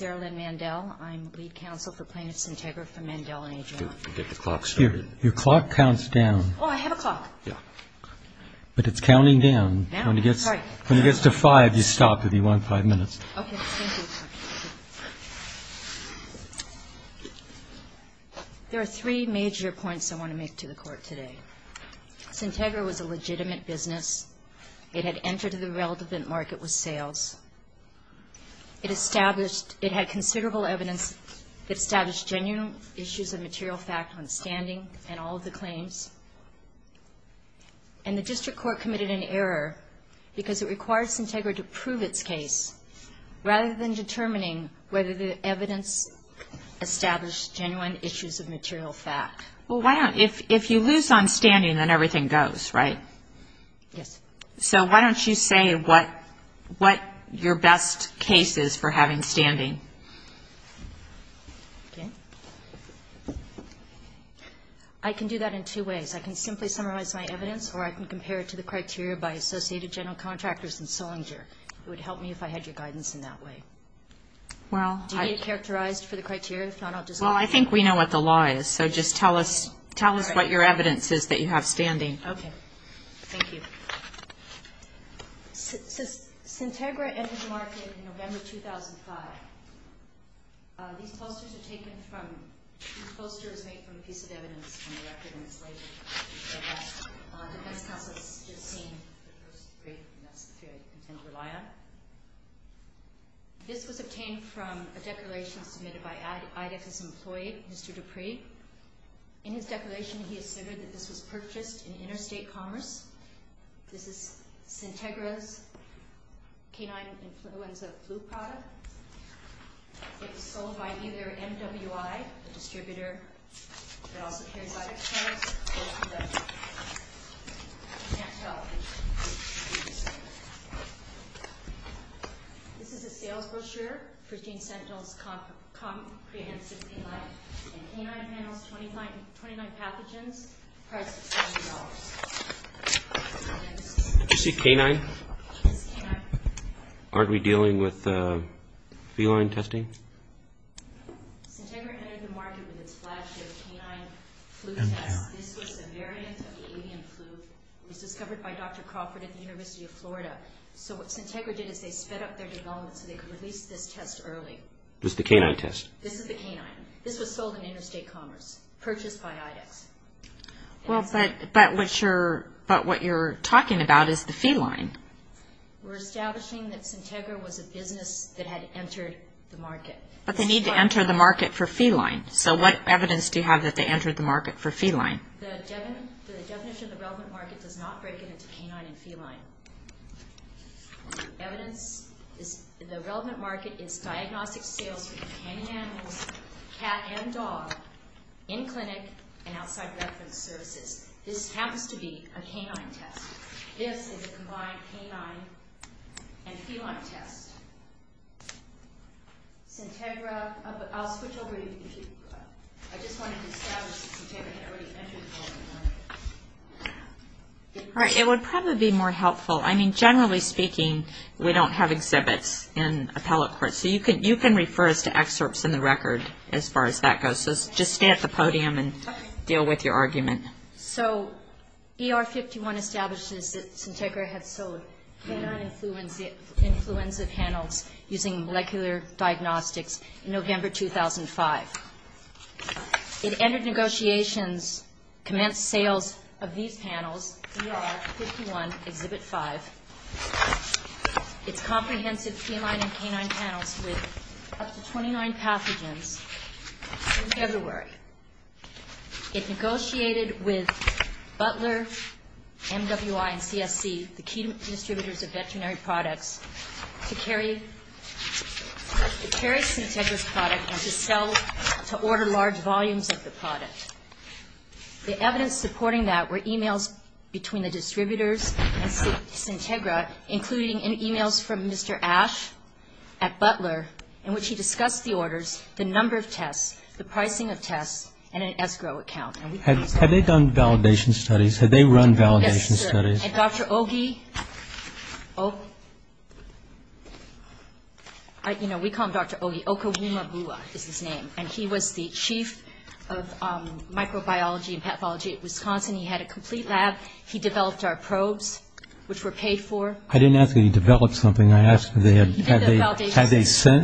There are three major points I want to make to the Court today. Centegra was a legitimate business. It had entered the relevant market with sales. It had considerable evidence that established genuine issues of material fact on standing and all of the claims. And the district court committed an error because it requires Centegra to prove its case rather than determining whether the evidence established genuine issues of material fact. Well, if you lose on standing, then everything goes, right? Yes. So why don't you say what your best case is for having standing? Okay. I can do that in two ways. I can simply summarize my evidence or I can compare it to the criteria by Associated General Contractors and Sollinger. It would help me if I had your guidance in that way. Do you need it characterized for the criteria? If not, I'll just let you know. Well, I think we know what the law is, so just tell us what your evidence is that you have standing. Okay. Thank you. Centegra entered the market in November 2005. These posters are taken from – these posters are made from a piece of evidence on the record in this label. Defense counsel has just seen the first three, and that's the three I intend to rely on. This was obtained from a declaration submitted by IDF's employee, Mr. Dupree. In his declaration, he asserted that this was purchased in interstate commerce. This is Centegra's canine influenza flu product. It was sold by either MWI, the distributor, that also carries out experiments, or through the National Health Agency. This is a sales brochure for Gene Sentinel's comprehensive canine and canine panels, 29 pathogens, priced at $20. Did you say canine? Yes, canine. Aren't we dealing with feline testing? Centegra entered the market with its flagship canine flu test. This was a variant of the avian flu. It was discovered by Dr. Crawford at the University of Florida. So what Centegra did is they sped up their development so they could release this test early. This is the canine test? This is the canine. This was sold in interstate commerce, purchased by IDEX. But what you're talking about is the feline. We're establishing that Centegra was a business that had entered the market. But they need to enter the market for feline. So what evidence do you have that they entered the market for feline? The definition of the relevant market does not break into canine and feline. The relevant market is diagnostic sales for canine animals, cat and dog, in clinic and outside reference services. This happens to be a canine test. This is a combined canine and feline test. Centegra. I'll switch over to you. I just wanted to establish that Centegra had already entered the market. All right. It would probably be more helpful. I mean, generally speaking, we don't have exhibits in appellate courts. So you can refer us to excerpts in the record as far as that goes. So just stay at the podium and deal with your argument. So ER51 establishes that Centegra had sold canine influenza panels using molecular diagnostics in November 2005. It entered negotiations, commenced sales of these panels, ER51 Exhibit 5, its comprehensive feline and canine panels with up to 29 pathogens in February. It negotiated with Butler, MWI, and CSC, the key distributors of veterinary products, to carry Centegra's product and to order large volumes of the product. The evidence supporting that were emails between the distributors and Centegra, including emails from Mr. Ash at Butler in which he discussed the orders, the number of tests, the pricing of tests, and an escrow account. Had they done validation studies? Had they run validation studies? Yes, sir. And Dr. Ogi, you know, we call him Dr. Ogi. Okowumabua is his name. And he was the chief of microbiology and pathology at Wisconsin. He had a complete lab. He developed our probes, which were paid for. I didn't ask if he developed something. I asked have they sent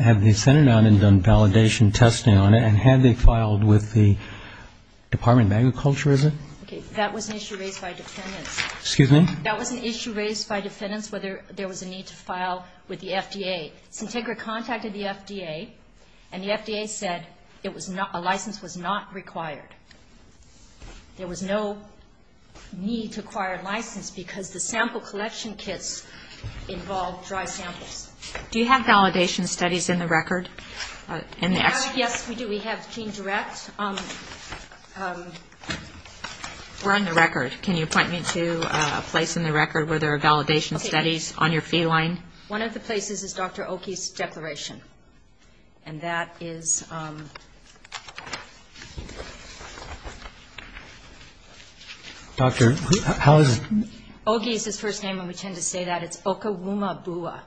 it out and done validation testing on it, and had they filed with the Department of Agriculture, is it? That was an issue raised by defendants. Excuse me? That was an issue raised by defendants whether there was a need to file with the FDA. Centegra contacted the FDA, and the FDA said a license was not required. There was no need to acquire a license because the sample collection kits involved dry samples. Do you have validation studies in the record? Yes, we do. We have GeneDirect. Where on the record? Can you point me to a place in the record where there are validation studies on your feed line? One of the places is Dr. Ogi's declaration. And that is Dr. Ogi is his first name, and we tend to say that. It's Okawumabua.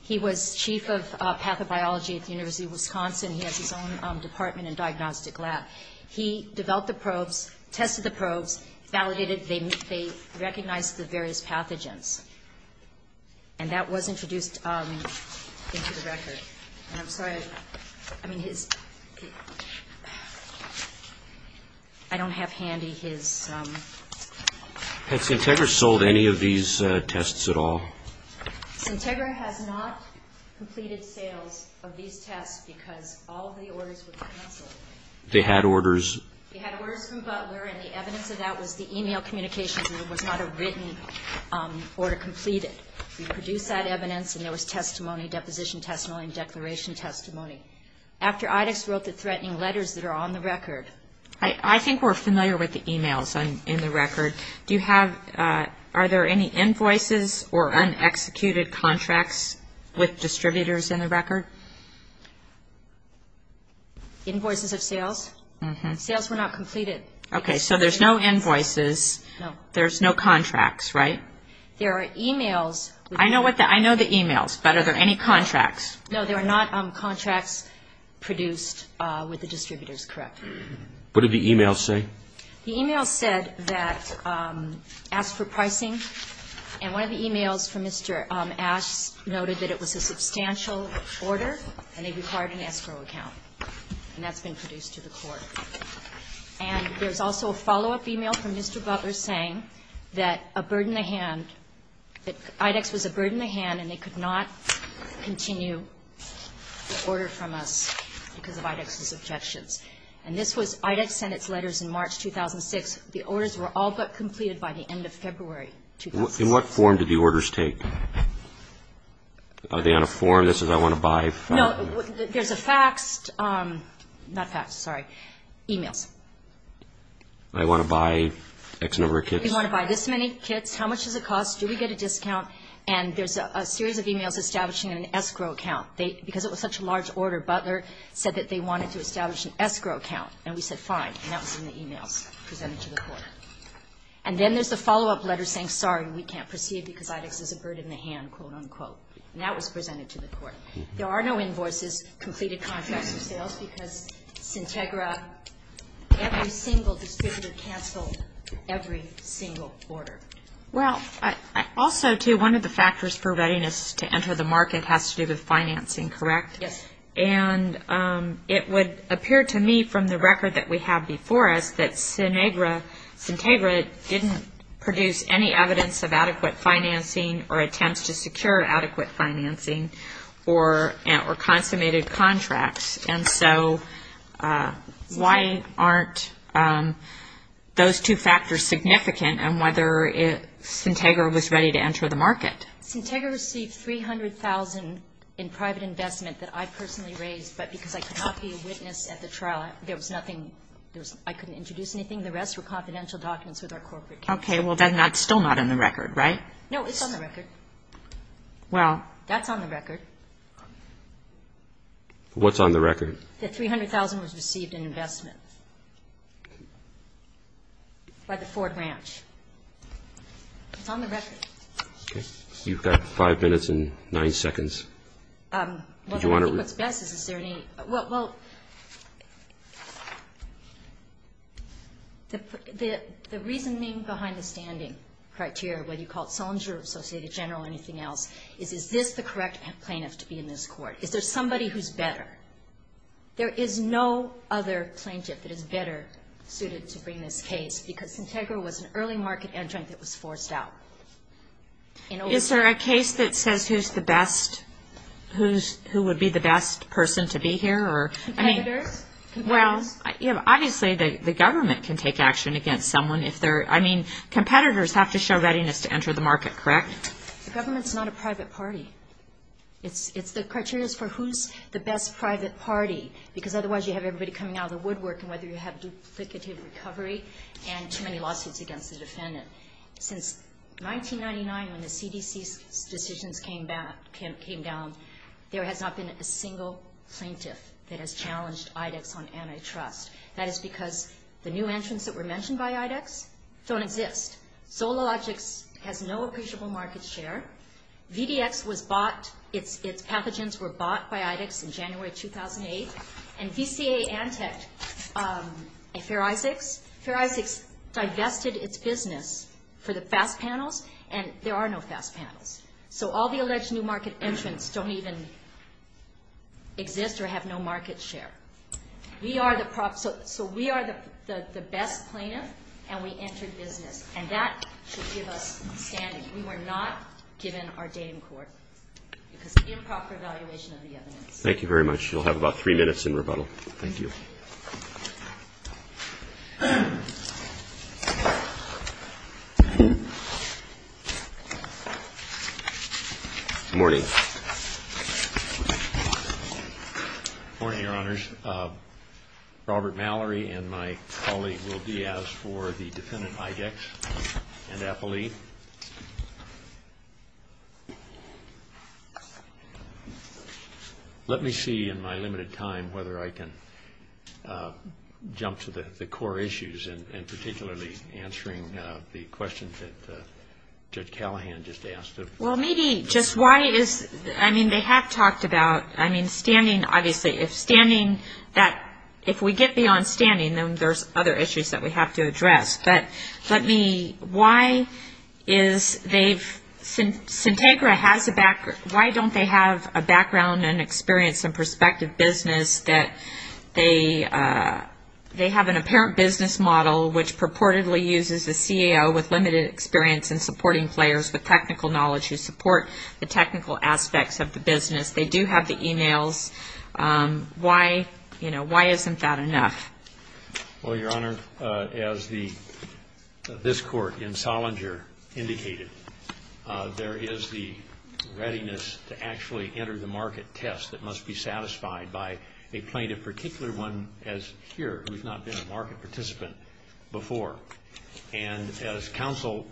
He was chief of pathobiology at the University of Wisconsin. He has his own department and diagnostic lab. He developed the probes, tested the probes, validated. They recognized the various pathogens. And that was introduced into the record. And I'm sorry. I mean, his ‑‑ I don't have handy his ‑‑ Had Centegra sold any of these tests at all? Centegra has not completed sales of these tests because all of the orders were cancelled. They had orders. They had orders from Butler, and the evidence of that was the e-mail communications because there was not a written order completed. We produced that evidence, and there was testimony, deposition testimony, and declaration testimony. After IDEX wrote the threatening letters that are on the record. I think we're familiar with the e-mails in the record. Do you have ‑‑ are there any invoices or unexecuted contracts with distributors in the record? Invoices of sales? Sales were not completed. Okay. So there's no invoices. No. There's no contracts, right? There are e-mails. I know what the ‑‑ I know the e-mails, but are there any contracts? No, there are not contracts produced with the distributors, correct? What did the e-mails say? The e-mails said that ‑‑ asked for pricing. And one of the e-mails from Mr. Asch noted that it was a substantial order, and they required an escrow account. And that's been produced to the court. And there's also a follow-up e-mail from Mr. Butler saying that a bird in the hand, that IDEX was a bird in the hand, and they could not continue the order from us because of IDEX's objections. And this was ‑‑ IDEX sent its letters in March 2006. The orders were all but completed by the end of February 2006. In what form did the orders take? Are they on a form that says I want to buy? No, there's a faxed ‑‑ not faxed, sorry, e-mails. I want to buy X number of kits. We want to buy this many kits. How much does it cost? Do we get a discount? And there's a series of e-mails establishing an escrow account. Because it was such a large order, Butler said that they wanted to establish an escrow account, and we said fine, and that was in the e-mails presented to the court. And then there's the follow-up letter saying, sorry, we can't proceed because IDEX is a bird in the hand, quote, unquote. And that was presented to the court. There are no invoices, completed contracts or sales, because Sintegra, every single distributor canceled every single order. Well, also, too, one of the factors for readiness to enter the market has to do with financing, correct? Yes. And it would appear to me from the record that we have before us that Sintegra didn't produce any evidence of adequate financing or attempts to secure adequate financing or consummated contracts. And so why aren't those two factors significant in whether Sintegra was ready to enter the market? Sintegra received $300,000 in private investment that I personally raised, but because I could not be a witness at the trial, there was nothing. I couldn't introduce anything. The rest were confidential documents with our corporate account. Okay. Well, then that's still not in the record, right? No, it's on the record. Well. That's on the record. What's on the record? That $300,000 was received in investment by the Ford Ranch. It's on the record. Okay. You've got five minutes and nine seconds. Well, I think what's best is, is there any ñ well, the reasoning behind the standing criteria, whether you call it Sollinger or Associated General or anything else, is is this the correct plaintiff to be in this court? Is there somebody who's better? There is no other plaintiff that is better suited to bring this case, because Sintegra was an early market entrant that was forced out. Is there a case that says who's the best, who would be the best person to be here? Competitors? Well, obviously the government can take action against someone if they're ñ I mean, competitors have to show readiness to enter the market, correct? The government's not a private party. It's the criteria for who's the best private party, because otherwise you have everybody coming out of the woodwork, and whether you have duplicative recovery and too many lawsuits against the defendant. Since 1999, when the CDC's decisions came down, there has not been a single plaintiff that has challenged IDEX on antitrust. That is because the new entrants that were mentioned by IDEX don't exist. Zologix has no appreciable market share. VDX was bought ñ its pathogens were bought by IDEX in January 2008. And VCA Antec, Fair Isaacs, Fair Isaacs divested its business for the FAST panels, and there are no FAST panels. So all the alleged new market entrants don't even exist or have no market share. We are the ñ so we are the best plaintiff, and we entered business. And that should give us standing. We were not given our day in court because of improper evaluation of the evidence. Thank you very much. You'll have about three minutes in rebuttal. Thank you. Good morning. Good morning, Your Honors. Robert Mallory and my colleague, Will Diaz, for the defendant, IDEX, and appellee. Let me see in my limited time whether I can jump to the core issues and particularly answering the questions that Judge Callahan just asked. Well, maybe just why is ñ I mean, they have talked about ñ I mean, standing, obviously. If standing that ñ if we get beyond standing, then there's other issues that we have to address. But let me ñ why is they've ñ Sintegra has a ñ why don't they have a background and experience in prospective business that they have an apparent business model, which purportedly uses a CAO with limited experience in supporting players with technical knowledge who support the technical aspects of the business. They do have the e-mails. Why ñ you know, why isn't that enough? Well, Your Honor, as the ñ this court in Sollinger indicated, there is the readiness to actually enter the market test that must be satisfied by a plaintiff, particularly one as here who's not been a market participant before. And as counsel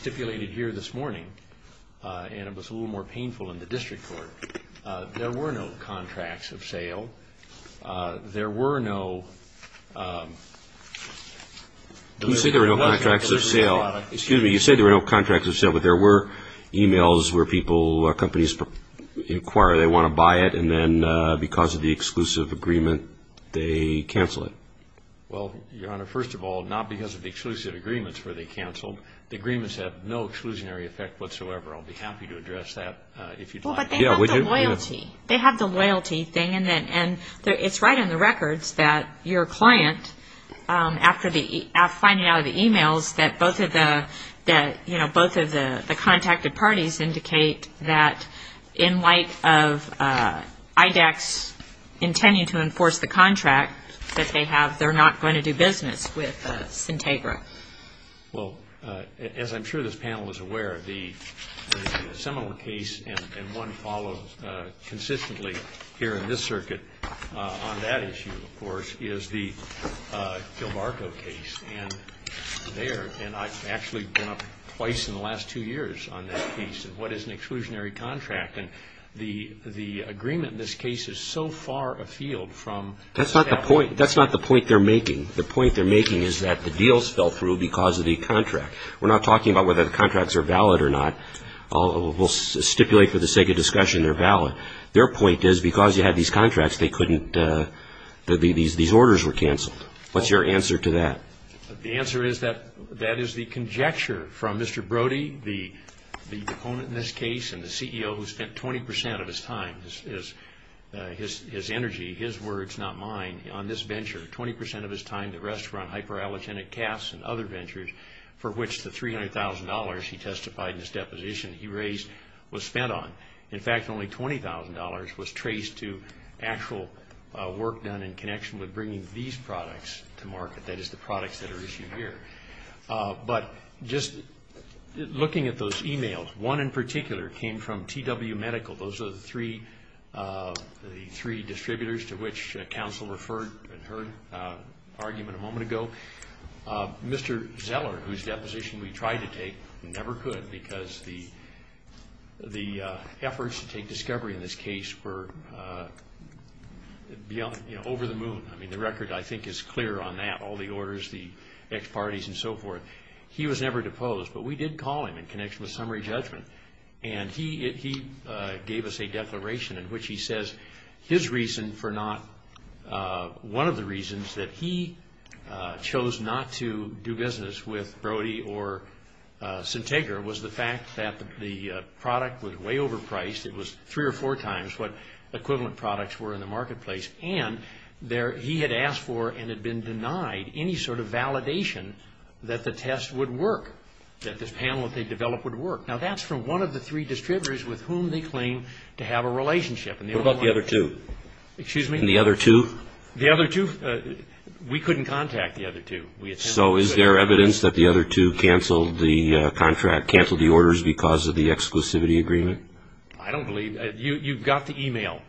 stipulated here this morning, and it was a little more painful in the district court, there were no contracts of sale. There were no ñ You said there were no contracts of sale. Excuse me. You said there were no contracts of sale, but there were e-mails where people ñ companies inquire they want to buy it, and then because of the exclusive agreement, they cancel it. Well, Your Honor, first of all, not because of the exclusive agreements where they canceled. The agreements have no exclusionary effect whatsoever. I'll be happy to address that if you'd like. No, but they have the loyalty. They have the loyalty thing, and it's right on the records that your client, after finding out of the e-mails that both of the ñ that, you know, both of the contacted parties indicate that in light of IDEX intending to enforce the contract that they have, they're not going to do business with Sintegra. Well, as I'm sure this panel is aware, the seminal case, and one followed consistently here in this circuit on that issue, of course, is the Gilbarco case. And there ñ and I've actually been up twice in the last two years on that case, and what is an exclusionary contract. And the agreement in this case is so far afield from ñ That's not the point. That's not the point they're making. The point they're making is that the deals fell through because of the contract. We're not talking about whether the contracts are valid or not. We'll stipulate for the sake of discussion they're valid. Their point is because you had these contracts, they couldn't ñ these orders were canceled. What's your answer to that? The answer is that that is the conjecture from Mr. Brody, the opponent in this case, and the CEO who spent 20 percent of his time, his energy, his words, not mine, on this venture, 20 percent of his time, the rest were on hypoallergenic calves and other ventures, for which the $300,000 he testified in his deposition he raised was spent on. In fact, only $20,000 was traced to actual work done in connection with bringing these products to market, that is the products that are issued here. But just looking at those e-mails, one in particular came from TW Medical. Those are the three distributors to which counsel referred in her argument a moment ago. Mr. Zeller, whose deposition we tried to take, never could because the efforts to take discovery in this case were over the moon. I mean, the record, I think, is clear on that, all the orders, the ex-parties and so forth. He was never deposed, but we did call him in connection with summary judgment, and he gave us a declaration in which he says his reason for not, one of the reasons that he chose not to do business with Brody or Centegra was the fact that the product was way overpriced. It was three or four times what equivalent products were in the marketplace, and he had asked for and had been denied any sort of validation that the test would work, that this panel that they developed would work. Now, that's from one of the three distributors with whom they claim to have a relationship. What about the other two? Excuse me? The other two? The other two, we couldn't contact the other two. So is there evidence that the other two canceled the contract, canceled the orders because of the exclusivity agreement? I don't believe that. You've got the e-mail.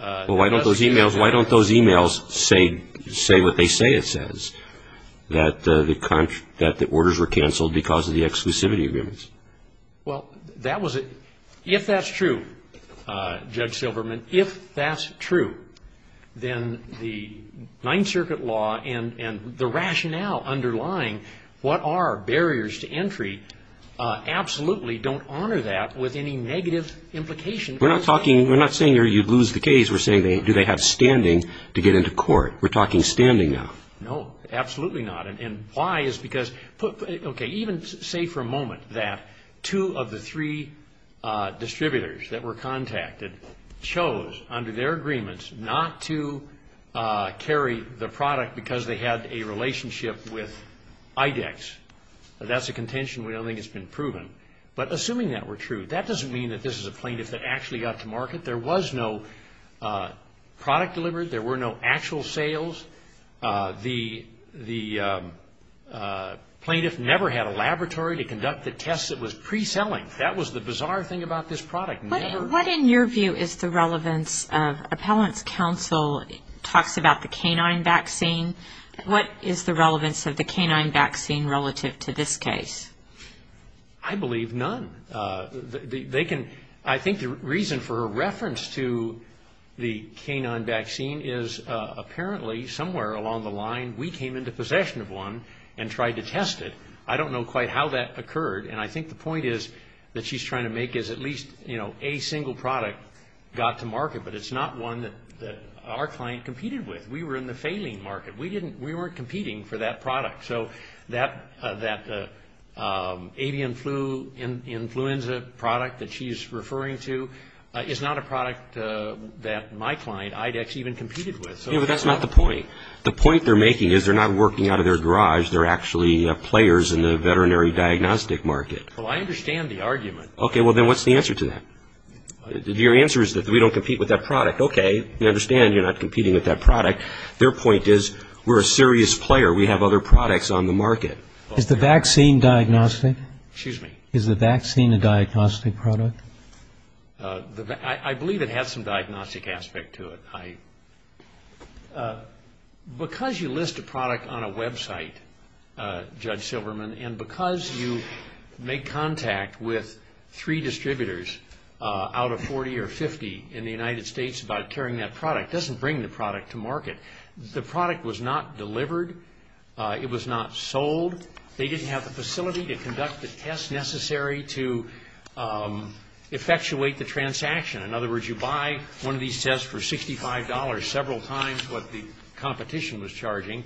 Well, why don't those e-mails say what they say it says, that the orders were canceled because of the exclusivity agreements? Well, if that's true, Judge Silverman, if that's true, then the Ninth Circuit law and the rationale underlying what are barriers to entry absolutely don't honor that with any negative implication. We're not talking – we're not saying you lose the case. We're saying do they have standing to get into court. We're talking standing now. No, absolutely not. And why is because – okay, even say for a moment that two of the three distributors that were contacted chose under their agreements not to carry the product because they had a relationship with IDEX. That's a contention we don't think has been proven. But assuming that were true, that doesn't mean that this is a plaintiff that actually got to market. There was no product delivered. There were no actual sales. The plaintiff never had a laboratory to conduct the tests. It was pre-selling. That was the bizarre thing about this product. What in your view is the relevance of appellant's counsel talks about the canine vaccine? What is the relevance of the canine vaccine relative to this case? I believe none. They can – I think the reason for a reference to the canine vaccine is apparently somewhere along the line we came into possession of one and tried to test it. I don't know quite how that occurred. And I think the point is that she's trying to make is at least, you know, a single product got to market, but it's not one that our client competed with. We were in the failing market. We didn't – we weren't competing for that product. So that avian flu influenza product that she's referring to is not a product that my client IDEX even competed with. Yeah, but that's not the point. The point they're making is they're not working out of their garage. They're actually players in the veterinary diagnostic market. Well, I understand the argument. Okay, well, then what's the answer to that? Your answer is that we don't compete with that product. Okay, I understand you're not competing with that product. Their point is we're a serious player. We have other products on the market. Is the vaccine diagnostic? Excuse me. Is the vaccine a diagnostic product? I believe it has some diagnostic aspect to it. Because you list a product on a website, Judge Silverman, and because you make contact with three distributors out of 40 or 50 in the United States about carrying that product, doesn't bring the product to market. The product was not delivered. It was not sold. They didn't have the facility to conduct the tests necessary to effectuate the transaction. In other words, you buy one of these tests for $65 several times what the competition was charging.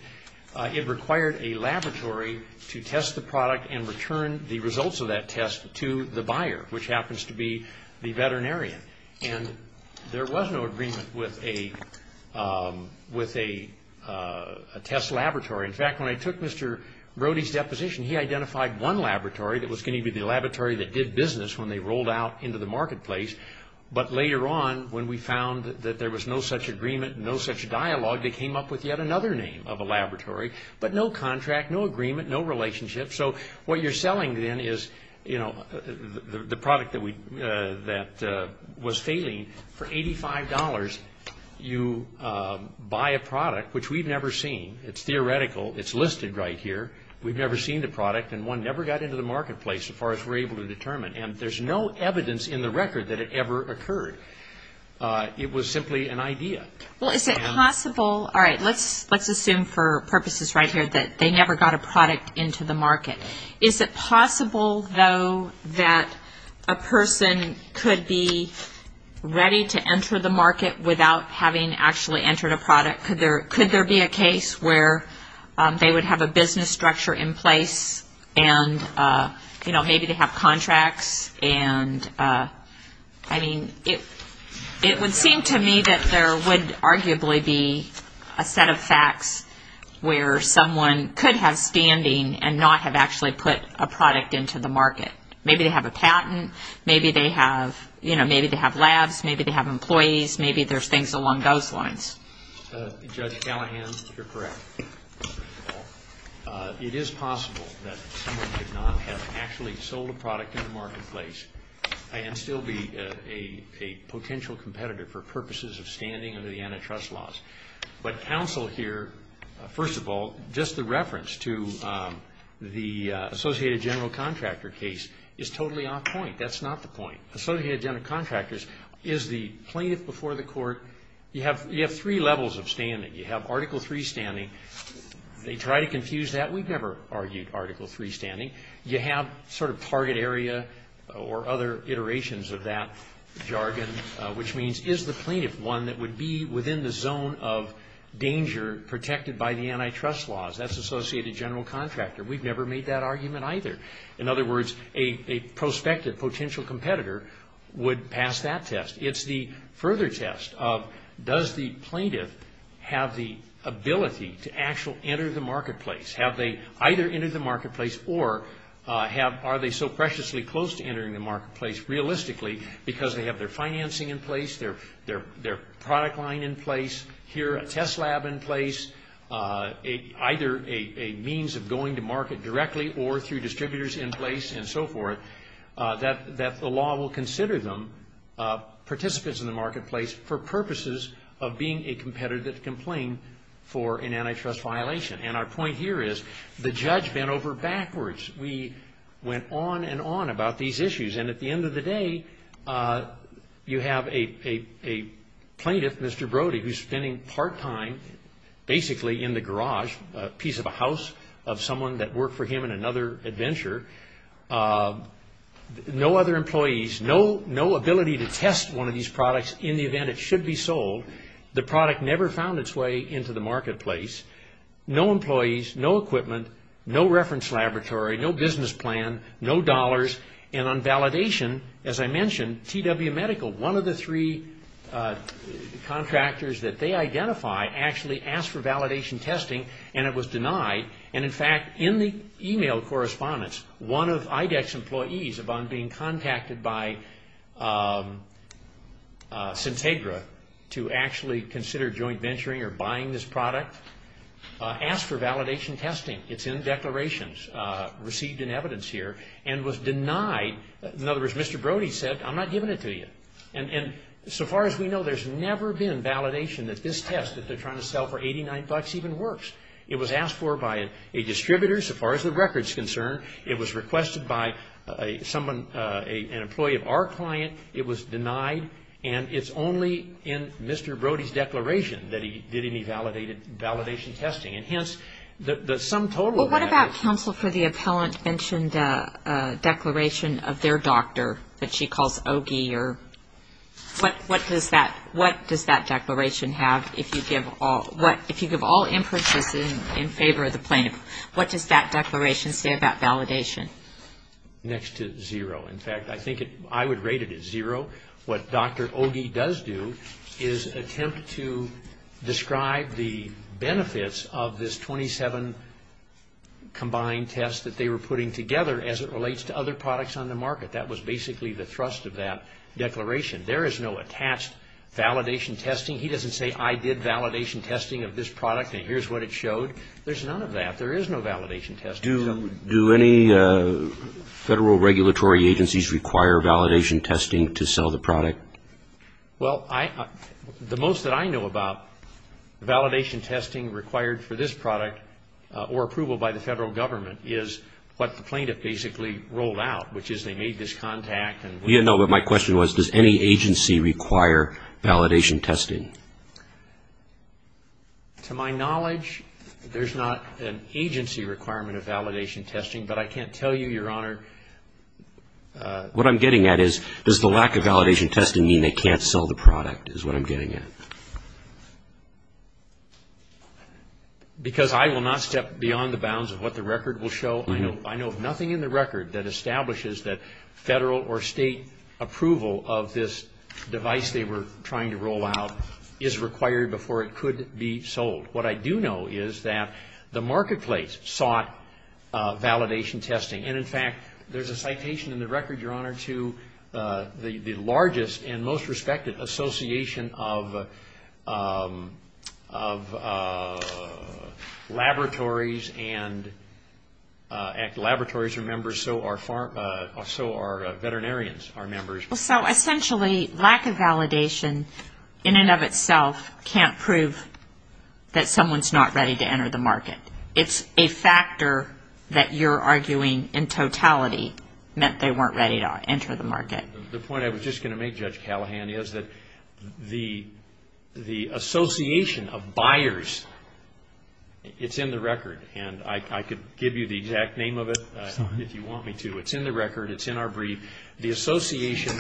It required a laboratory to test the product and return the results of that test to the buyer, which happens to be the veterinarian. There was no agreement with a test laboratory. In fact, when I took Mr. Brody's deposition, he identified one laboratory that was going to be the laboratory that did business when they rolled out into the marketplace. But later on, when we found that there was no such agreement, no such dialogue, they came up with yet another name of a laboratory, but no contract, no agreement, no relationship. So what you're selling then is the product that was failing. For $85, you buy a product, which we've never seen. It's theoretical. It's listed right here. We've never seen the product, and one never got into the marketplace as far as we're able to determine. And there's no evidence in the record that it ever occurred. It was simply an idea. All right, let's assume for purposes right here that they never got a product into the market. Is it possible, though, that a person could be ready to enter the market without having actually entered a product? Could there be a case where they would have a business structure in place and, you know, maybe they have contracts? And, I mean, it would seem to me that there would arguably be a set of facts where someone could have standing and not have actually put a product into the market. Maybe they have a patent. Maybe they have, you know, maybe they have labs. Maybe they have employees. Maybe there's things along those lines. Judge Callahan, you're correct. It is possible that someone could not have actually sold a product in the marketplace and still be a potential competitor for purposes of standing under the antitrust laws. But counsel here, first of all, just the reference to the Associated General Contractor case is totally off point. That's not the point. Associated General Contractors is the plaintiff before the court. You have three levels of standing. You have Article III standing. They try to confuse that. We've never argued Article III standing. You have sort of target area or other iterations of that jargon, which means is the plaintiff one that would be within the zone of danger protected by the antitrust laws? That's Associated General Contractor. We've never made that argument either. In other words, a prospective potential competitor would pass that test. It's the further test of does the plaintiff have the ability to actually enter the marketplace? Have they either entered the marketplace or are they so preciously close to entering the marketplace realistically because they have their financing in place, their product line in place, here a test lab in place, either a means of going to market directly or through distributors in place and so forth, that the law will consider them participants in the marketplace for purposes of being a competitive complaint for an antitrust violation. And our point here is the judge bent over backwards. We went on and on about these issues. And at the end of the day, you have a plaintiff, Mr. Brody, who's spending part time basically in the garage, a piece of a house of someone that worked for him in another adventure. No other employees, no ability to test one of these products in the event it should be sold. The product never found its way into the marketplace. No employees, no equipment, no reference laboratory, no business plan, no dollars. And on validation, as I mentioned, TW Medical, one of the three contractors that they identify, actually asked for validation testing and it was denied. And, in fact, in the e-mail correspondence, one of IDEX employees, upon being contacted by Centegra to actually consider joint venturing or buying this product, asked for validation testing. It's in declarations received in evidence here and was denied. In other words, Mr. Brody said, I'm not giving it to you. And so far as we know, there's never been validation that this test that they're trying to sell for $89 even works. It was asked for by a distributor, so far as the record's concerned. It was requested by someone, an employee of our client. It was denied. And it's only in Mr. Brody's declaration that he did any validation testing. And, hence, the sum total of that is- What does that declaration have if you give all inputs in favor of the plaintiff? What does that declaration say about validation? Next to zero. In fact, I think I would rate it at zero. What Dr. Ogie does do is attempt to describe the benefits of this 27 combined tests that they were putting together as it relates to other products on the market. That was basically the thrust of that declaration. There is no attached validation testing. He doesn't say, I did validation testing of this product and here's what it showed. There's none of that. There is no validation testing. Do any federal regulatory agencies require validation testing to sell the product? Well, the most that I know about validation testing required for this product or approval by the federal government is what the plaintiff basically rolled out, which is they made this contact and- No, but my question was, does any agency require validation testing? To my knowledge, there's not an agency requirement of validation testing, but I can't tell you, Your Honor. What I'm getting at is, does the lack of validation testing mean they can't sell the product is what I'm getting at. Because I will not step beyond the bounds of what the record will show. I know of nothing in the record that establishes that federal or state approval of this device they were trying to roll out is required before it could be sold. What I do know is that the marketplace sought validation testing, and in fact, there's a citation in the record, Your Honor, to the largest and most respected association of laboratories, and laboratories are members, so are veterinarians are members. So essentially, lack of validation in and of itself can't prove that someone's not ready to enter the market. It's a factor that you're arguing in totality meant they weren't ready to enter the market. The point I was just going to make, Judge Callahan, is that the association of buyers, it's in the record, and I could give you the exact name of it if you want me to. It's in the record. It's in our brief. The association,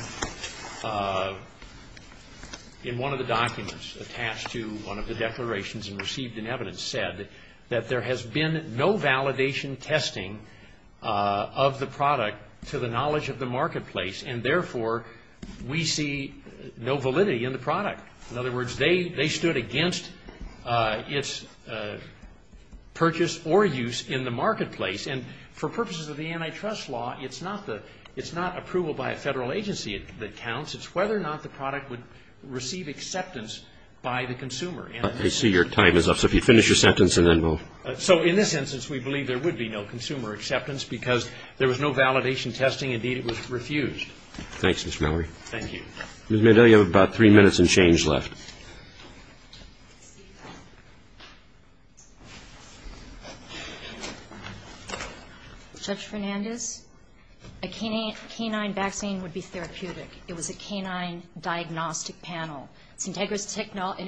in one of the documents attached to one of the declarations and received in evidence, said that there has been no validation testing of the product to the knowledge of the marketplace, and therefore, we see no validity in the product. In other words, they stood against its purchase or use in the marketplace, and for purposes of the antitrust law, it's not approval by a federal agency that counts. It's whether or not the product would receive acceptance by the consumer. I see your time is up, so if you finish your sentence and then we'll... So in this instance, we believe there would be no consumer acceptance because there was no validation testing. Indeed, it was refused. Thanks, Mr. Mallory. Thank you. Ms. Mandel, you have about three minutes and change left. Judge Fernandez, a canine vaccine would be therapeutic. It was a canine diagnostic panel, and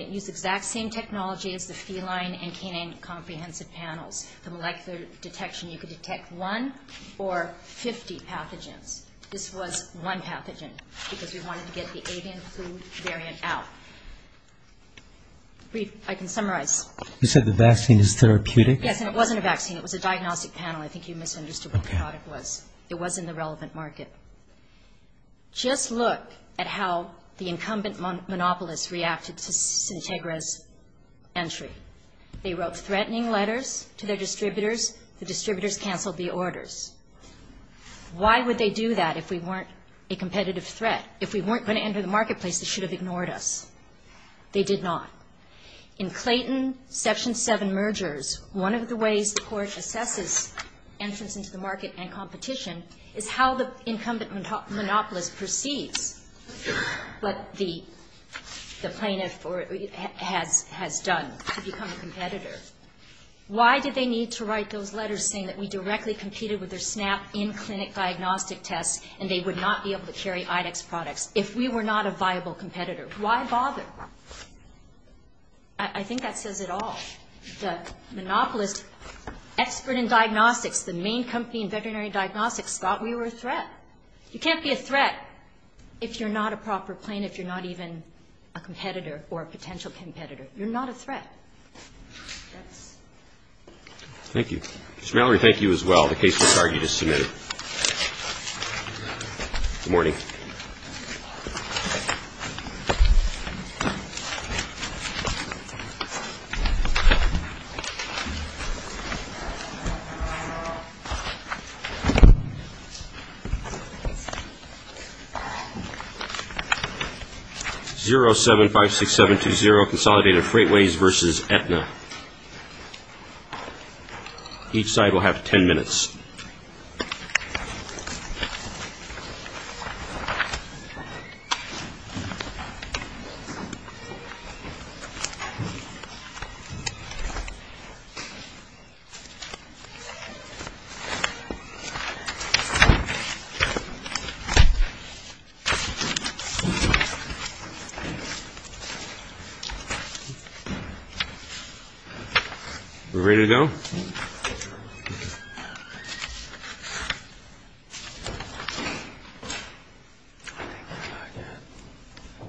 it used the exact same technology as the feline and canine comprehensive panels. The molecular detection, you could detect one or 50 pathogens. This was one pathogen because we wanted to get the avian flu variant out. I can summarize. You said the vaccine is therapeutic? Yes, and it wasn't a vaccine. It was a diagnostic panel. I think you misunderstood what the product was. It wasn't the relevant market. Just look at how the incumbent monopolists reacted to Syntegra's entry. They wrote threatening letters to their distributors. The distributors canceled the orders. Why would they do that if we weren't a competitive threat? If we weren't going to enter the marketplace, they should have ignored us. They did not. In Clayton, Section 7 mergers, one of the ways the Court assesses entrance into the market and competition is how the incumbent monopolist perceives what the plaintiff has done to become a competitor. Why did they need to write those letters saying that we directly competed with their SNAP in-clinic diagnostic tests and they would not be able to carry IDEX products if we were not a viable competitor? Why bother? I think that says it all. The monopolist expert in diagnostics, the main company in veterinary diagnostics, thought we were a threat. You can't be a threat if you're not a proper plaintiff, if you're not even a competitor or a potential competitor. You're not a threat. Ms. Mallory, thank you as well. The case was argued as submitted. Good morning. 0756720, Consolidated Freightways v. Aetna. Each side will have 10 minutes. Are we ready to go? Thank you.